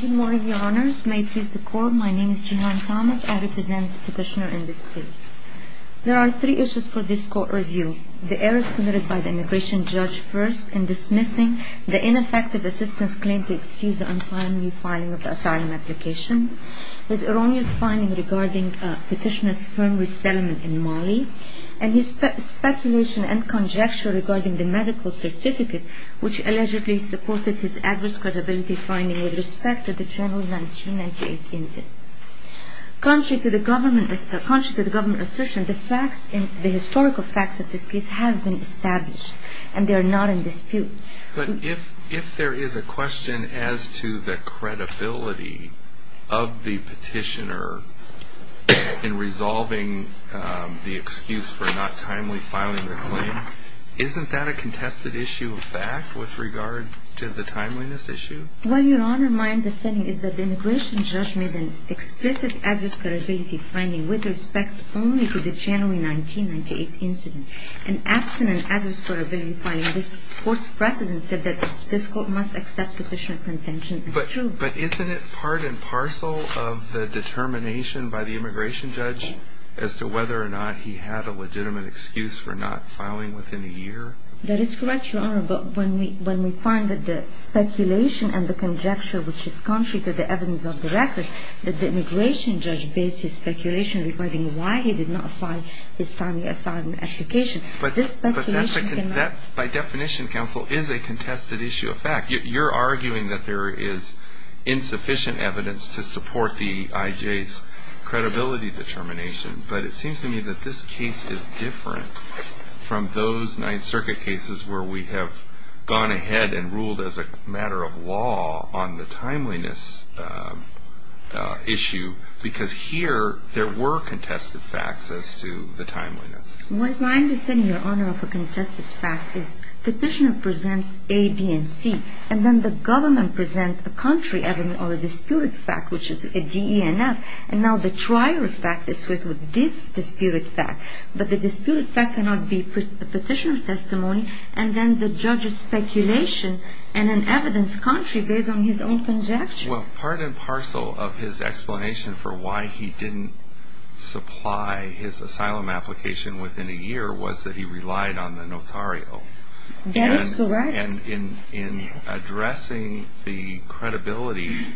Good morning, Your Honors. May it please the Court, my name is Jehan Thomas. I represent the petitioner in this case. There are three issues for this Court review. The errors committed by the immigration judge first in dismissing the ineffective assistant's claim to excuse the untimely filing of the asylum application, his erroneous finding regarding petitioner's firm resettlement in Mali, and his speculation and conjecture regarding the medical certificate which allegedly supported his adverse credibility finding with respect to the journal's 1998 incident. Contrary to the government assertion, the historical facts of this case have been established, and they are not in dispute. But if there is a question as to the credibility of the petitioner in resolving the excuse for not timely filing the claim, isn't that a contested issue of fact with regard to the timeliness issue? Well, Your Honor, my understanding is that the immigration judge made an explicit adverse credibility finding with respect only to the January 1998 incident, and absent an adverse credibility filing, this Court's precedent said that this Court must accept the petitioner's contention as true. But isn't it part and parcel of the determination by the immigration judge as to whether or not he had a legitimate excuse for not filing within a year? That is correct, Your Honor, but when we find that the speculation and the conjecture which is contrary to the evidence of the record, that the immigration judge based his speculation regarding why he did not file his timely asylum application, this speculation can not... But that, by definition, Counsel, is a contested issue of fact. You're arguing that there is insufficient evidence to support the IJ's credibility determination, but it seems to me that this case is different from those Ninth Circuit cases where we have gone ahead and ruled as a matter of law on the timeliness issue, because here there were contested facts as to the timeliness. My understanding, Your Honor, of a contested fact is the petitioner presents A, B, and C, and then the government presents a contrary evidence or a disputed fact, which is a D, E, and F, and now the trier fact is with this disputed fact, but the disputed fact cannot be a petitioner's testimony, and then the judge's speculation and an evidence contrary based on his own conjecture. Well, part and parcel of his explanation for why he didn't supply his asylum application within a year was that he relied on the notario. That is correct. And in addressing the credibility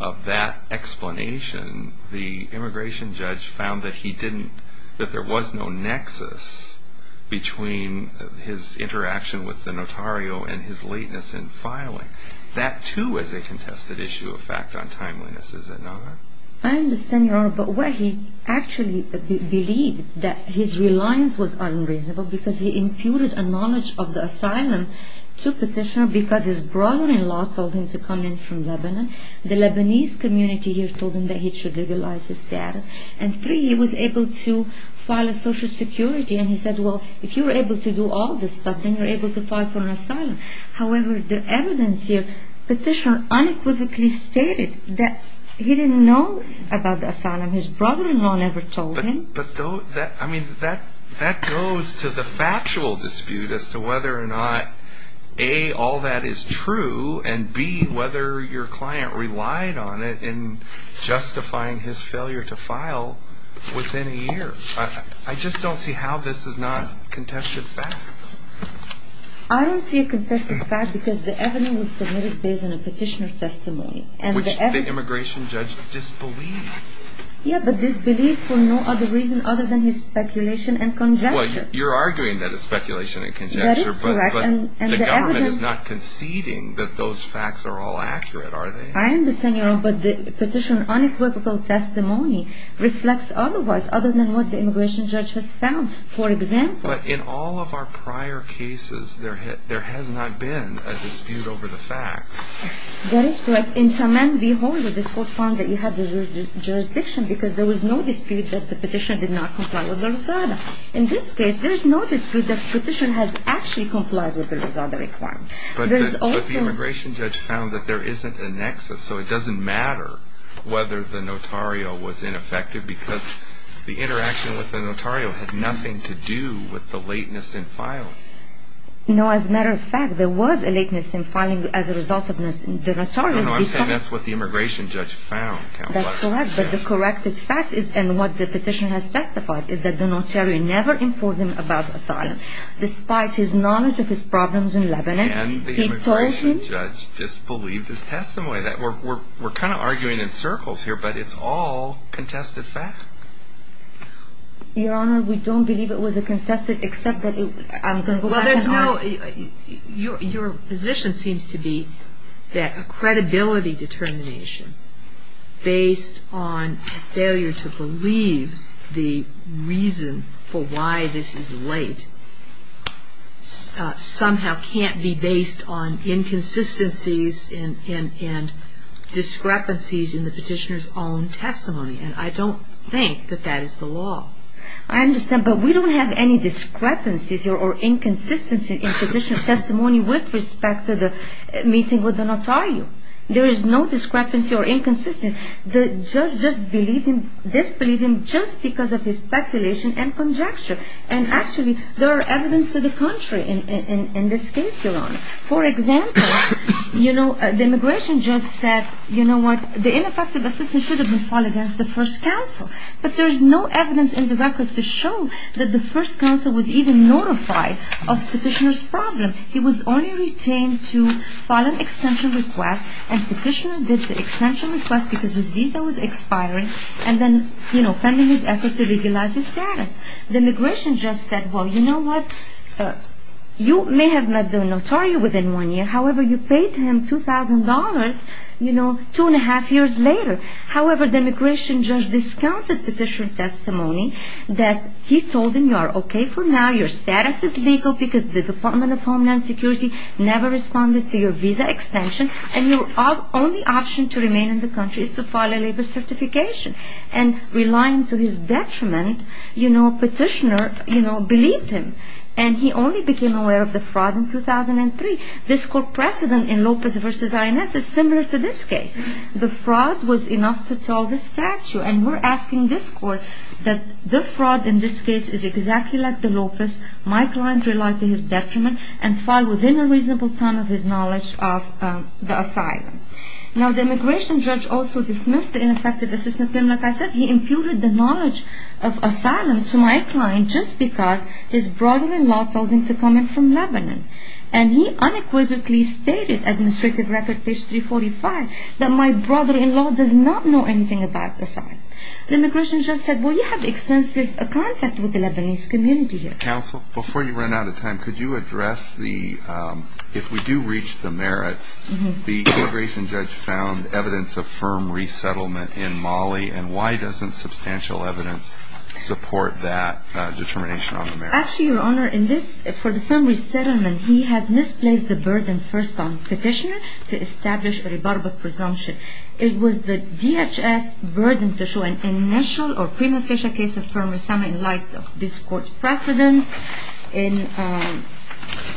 of that explanation, the immigration judge found that he didn't, that there was no nexus between his interaction with the notario and his lateness in filing. That, too, is a contested issue of fact on timeliness, is it not? I understand, Your Honor, but where he actually believed that his reliance was unreasonable because he imputed a knowledge of the asylum to a petitioner because his brother-in-law told him to come in from Lebanon. The Lebanese community here told him that he should legalize his status. And three, he was able to file a social security, and he said, well, if you were able to do all this stuff, then you're able to file for an asylum. However, the evidence here, petitioner unequivocally stated that he didn't know about the asylum. His brother-in-law never told him. But that goes to the factual dispute as to whether or not, A, all that is true, and B, whether your client relied on it in justifying his failure to file within a year. I just don't see how this is not contested fact. I don't see it contested fact because the evidence was submitted based on a petitioner's testimony. Which the immigration judge disbelieved. Yeah, but disbelieved for no other reason other than his speculation and conjecture. Well, you're arguing that it's speculation and conjecture, but the government is not conceding that those facts are all accurate, are they? I understand your point, but the petitioner's unequivocal testimony reflects otherwise, other than what the immigration judge has found, for example. But in all of our prior cases, there has not been a dispute over the fact. That is correct. In Saman V. Hall, this court found that you had jurisdiction because there was no dispute that the petition did not comply with the Rosada. In this case, there is no dispute that the petition has actually complied with the Rosada requirement. But the immigration judge found that there isn't a nexus, so it doesn't matter whether the notarial was ineffective because the interaction with the notarial had nothing to do with the lateness in filing. No, as a matter of fact, there was a lateness in filing as a result of the notarial. No, I'm saying that's what the immigration judge found. That's correct, but the corrected fact is, and what the petitioner has testified, is that the notarial never informed him about the asylum. Despite his knowledge of his problems in Lebanon, he told him... And the immigration judge disbelieved his testimony. We're kind of arguing in circles here, but it's all contested fact. Your Honor, we don't believe it was a contested, except that... Well, there's no... Your position seems to be that a credibility determination based on failure to believe the reason for why this is late somehow can't be based on inconsistencies and discrepancies in the petitioner's own testimony. And I don't think that that is the law. I understand, but we don't have any discrepancies or inconsistencies in the petitioner's testimony with respect to the meeting with the notarial. There is no discrepancy or inconsistency. The judge disbelieved him just because of his speculation and conjecture. And actually, there is evidence to the contrary in this case, Your Honor. For example, the immigration judge said, you know what, the ineffective assistant should have been filed against the first counsel. But there is no evidence in the record to show that the first counsel was even notified of the petitioner's problem. He was only retained to file an extension request. And the petitioner did the extension request because his visa was expiring and then, you know, pending his effort to legalize his status. The immigration judge said, well, you know what, you may have met the notarial within one year. However, you paid him $2,000. Two and a half years later. However, the immigration judge discounted the petitioner's testimony that he told him, you are okay for now. Your status is legal because the Department of Homeland Security never responded to your visa extension. And your only option to remain in the country is to file a labor certification. And relying to his detriment, you know, the petitioner believed him. And he only became aware of the fraud in 2003. This court precedent in Lopez v. INS is similar to this case. The fraud was enough to tell the statute. And we're asking this court that the fraud in this case is exactly like the Lopez. My client relied to his detriment and filed within a reasonable time of his knowledge of the asylum. Now, the immigration judge also dismissed the ineffective assistant. Like I said, he imputed the knowledge of asylum to my client just because his brother-in-law told him to come in from Lebanon. And he unequivocally stated, administrative record page 345, my brother-in-law does not know anything about asylum. The immigration judge said, well, you have extensive contact with the Lebanese community here. Counsel, before you run out of time, could you address the, if we do reach the merits, the immigration judge found evidence of firm resettlement in Mali. And why doesn't substantial evidence support that determination on the merits? Actually, Your Honor, in this, for the firm resettlement, he has misplaced the burden first on the petitioner to establish a rebuttable presumption. It was the DHS burden to show an initial or prima facie case of firm resettlement in light of this court's precedence.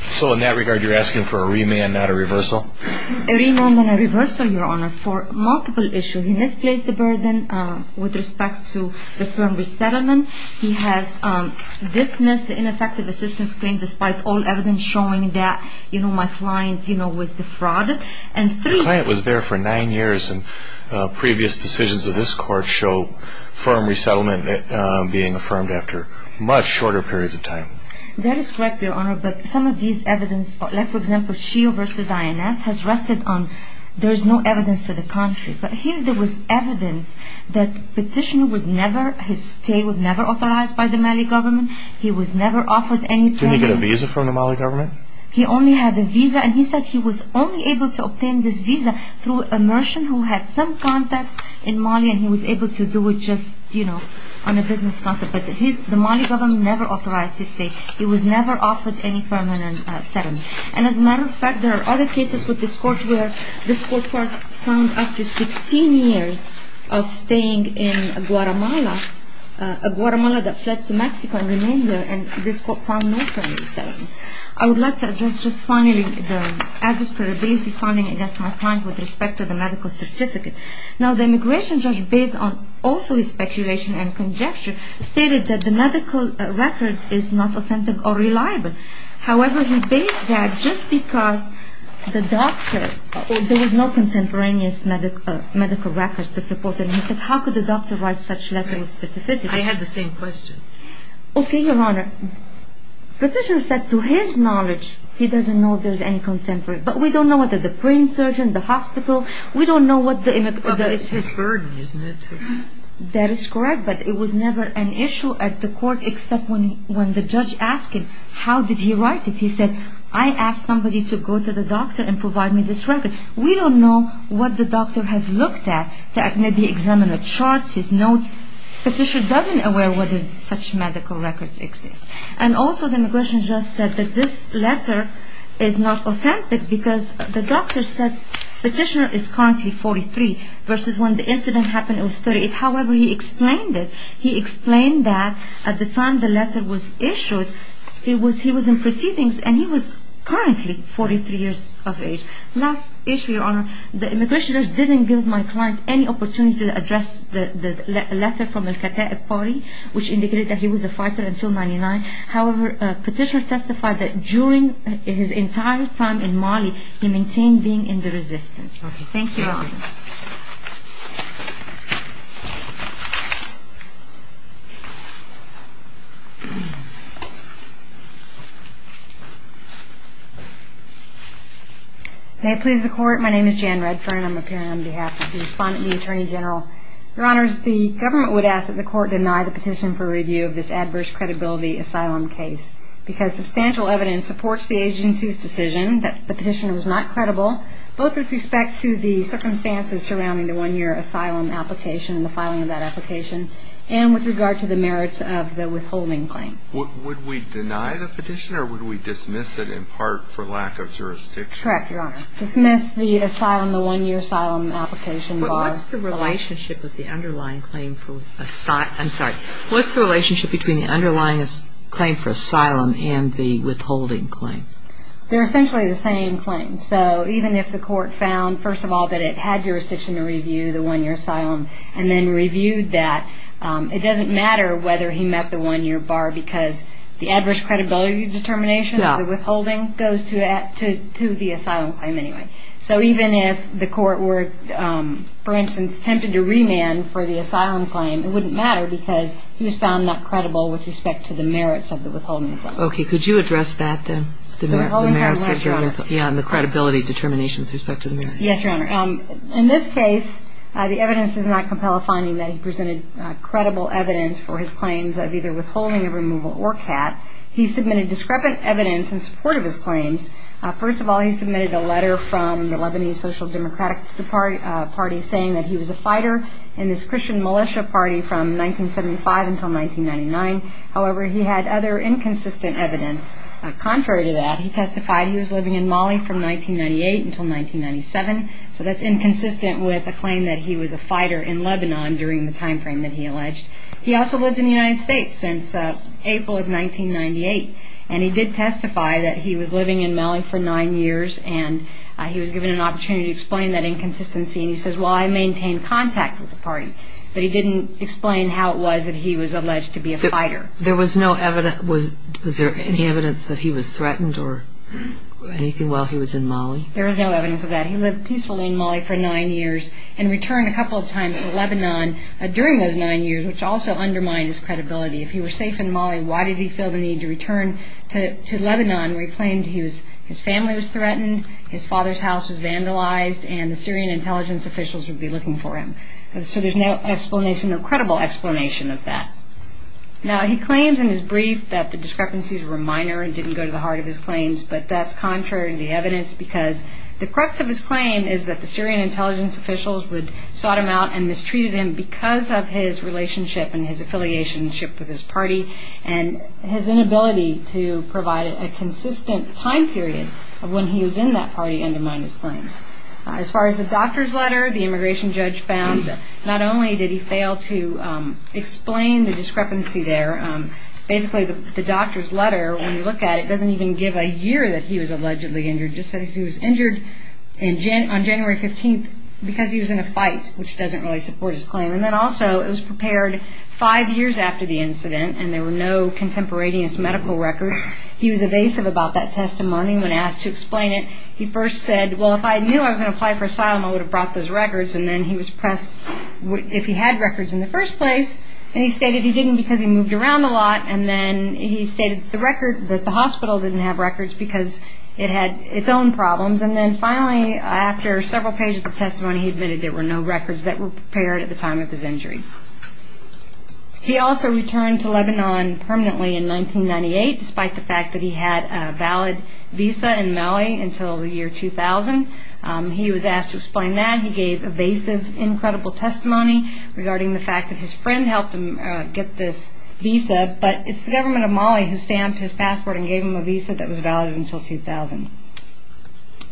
So in that regard, you're asking for a remand, not a reversal? A remand and a reversal, Your Honor, for multiple issues. He misplaced the burden with respect to the firm resettlement. He has dismissed the ineffective assistant's claim despite all evidence showing that my client was defrauded. Your client was there for nine years, and previous decisions of this court show firm resettlement being affirmed after much shorter periods of time. That is correct, Your Honor, but some of these evidence, like for example, Shio v. INS, has rested on there is no evidence to the contrary. But here there was evidence that petitioner was never, his stay was never authorized by the Mali government. He was never offered any training. Didn't he get a visa from the Mali government? No, Your Honor. He only had a visa, and he said he was only able to obtain this visa through a merchant who had some contacts in Mali, and he was able to do it just, you know, on a business contract. But the Mali government never authorized his stay. He was never offered any permanent settlement. And as a matter of fact, there are other cases with this court where this court found after 16 years of staying in Guatemala, Guatemala that fled to Mexico and remained there, and this court found no permanent settlement. Let's address just finally the adverse credibility finding against my client with respect to the medical certificate. Now, the immigration judge based on also his speculation and conjecture stated that the medical record is not authentic or reliable. However, he based that just because the doctor, there was no contemporaneous medical records to support him. He said, how could the doctor write such letter with specificity? I had the same question. Okay, Your Honor. Petitioner said to his knowledge, he doesn't know if there's any contemporary, but we don't know whether the brain surgeon, the hospital, we don't know what the... It's his burden, isn't it? That is correct, but it was never an issue at the court except when the judge asked him, how did he write it? He said, I asked somebody to go to the doctor and provide me this record. We don't know what the doctor has looked at, maybe examined the charts, his notes. Petitioner doesn't aware whether such medical records exist. And also the immigration judge said that this letter is not authentic because the doctor said, petitioner is currently 43, versus when the incident happened, it was 38. However, he explained it. He explained that at the time the letter was issued, he was in proceedings and he was currently 43 years of age. Last issue, Your Honor, the immigration judge didn't give my client any opportunity to address the letter from Al-Kata'ib party, which indicated that he was a fighter until 99. However, petitioner testified that during his entire time in Mali, he maintained being in the resistance. Thank you, Your Honor. May it please the Court, my name is Jan Redfern. I'm appearing on behalf of the respondent, the Attorney General. Your Honors, the government would ask that the Court deny the petition for review of this adverse credibility asylum case. Because substantial evidence supports the agency's decision that the petitioner was not credible, both with respect to the circumstances surrounding the one-year asylum application and the filing of that application, and with regard to the merits of the withholding claim. Would we deny the petition, or would we dismiss it in part for lack of jurisdiction? Correct, Your Honor. Dismiss the asylum, the one-year asylum application. But what's the relationship with the underlying claim for, I'm sorry, what's the relationship between the underlying claim for asylum and the withholding claim? They're essentially the same claim. So even if the Court found, first of all, that it had jurisdiction to review the one-year asylum, and then reviewed that, it doesn't matter whether he met the one-year bar, because the adverse credibility determination of the withholding goes to the asylum claim anyway. So even if the Court were, for instance, tempted to remand for the asylum claim, it wouldn't matter because he was found not credible with respect to the merits of the withholding claim. Okay. Could you address that then? The withholding claim, right, Your Honor. Yeah, and the credibility determination with respect to the merits. Yes, Your Honor. In this case, the evidence does not compel a finding that he presented credible evidence for his claims of either withholding, a removal, or CAT. He submitted discrepant evidence in support of his claims. First of all, he submitted a letter from the Lebanese Social Democratic Party saying that he was a fighter in this Christian militia party from 1975 until 1999. However, he had other inconsistent evidence. Contrary to that, he testified he was living in Mali from 1998 until 1997. So that's inconsistent with a claim that he was a fighter in Lebanon during the time frame that he alleged. He also lived in the United States since April of 1998. And he did testify that he was living in Mali for nine years. And he was given an opportunity to explain that inconsistency. And he says, well, I maintain contact with the party. But he didn't explain how it was that he was alleged to be a fighter. There was no evidence. Was there any evidence that he was threatened or anything while he was in Mali? There was no evidence of that. He lived peacefully in Mali for nine years and returned a couple of times to Lebanon during those nine years, which also undermined his credibility. If he were safe in Mali, why did he feel the need to return to Lebanon where he claimed his family was threatened, his father's house was vandalized, and the Syrian intelligence officials would be looking for him? So there's no explanation, no credible explanation of that. Now, he claims in his brief that the discrepancies were minor and didn't go to the heart of his claims. But that's contrary to the evidence because the crux of his claim is that the Syrian intelligence officials would sort him out and mistreated him because of his relationship and his inability to provide a consistent time period of when he was in that party undermined his claims. As far as the doctor's letter, the immigration judge found not only did he fail to explain the discrepancy there, basically the doctor's letter, when you look at it, doesn't even give a year that he was allegedly injured, just says he was injured on January 15th because he was in a fight, which doesn't really support his claim. He said that he had contemporaneous medical records. He was evasive about that testimony when asked to explain it. He first said, well, if I knew I was going to apply for asylum, I would have brought those records. And then he was pressed if he had records in the first place. And he stated he didn't because he moved around a lot. And then he stated that the hospital didn't have records because it had its own problems. And then finally, in 1998, despite the fact that he had a valid visa in Mali until the year 2000, he was asked to explain that. He gave evasive, incredible testimony regarding the fact that his friend helped him get this visa. But it's the government of Mali who stamped his passport and gave him a visa that was valid until 2000.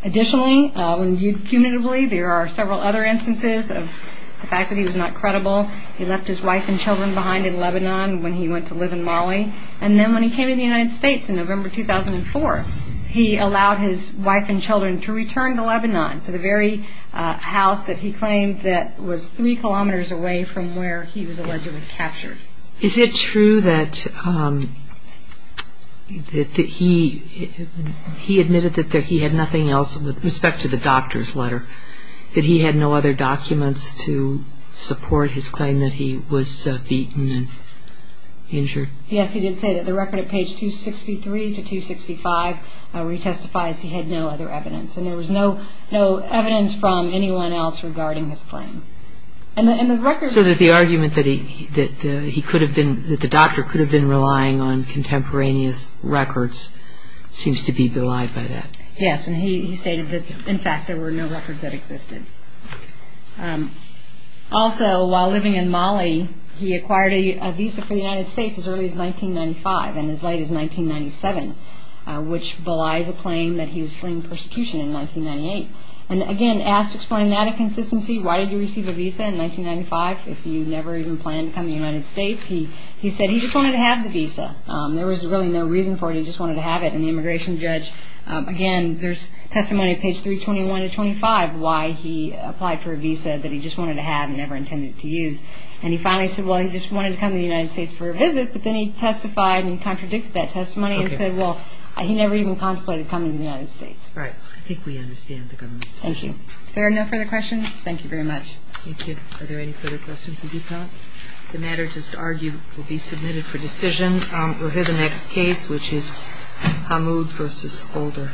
Additionally, when viewed punitively, and then when he came to the United States in November 2004, he allowed his wife and children to return to Lebanon, to the very house that he claimed that was three kilometers away from where he was allegedly captured. Is it true that he admitted that he had nothing else with respect to the doctor's letter, that he had no other documents to support his claim that he was beaten and injured? I would say that the record at page 263 to 265 where he testifies he had no other evidence. And there was no evidence from anyone else regarding his claim. So that the argument that the doctor could have been relying on contemporaneous records seems to be belied by that. Yes, and he stated that in fact there were no records that existed. Also, while living in Mali, he acquired a visa in 1995, and as late as 1997, which belies a claim that he was fleeing persecution in 1998. And again, asked to explain that inconsistency, why did you receive a visa in 1995 if you never even planned to come to the United States? He said he just wanted to have the visa. There was really no reason for it, he just wanted to have it. And the immigration judge, again, there's testimony at page 321 to 325 and contradicted that testimony and said, well, he never even contemplated coming to the United States. Right, I think we understand the government. Thank you. If there are no further questions, thank you very much. Thank you. Are there any further questions? If not, the matter is to argue will be submitted for decision. We'll hear the next case, which is Hamoud versus Holder.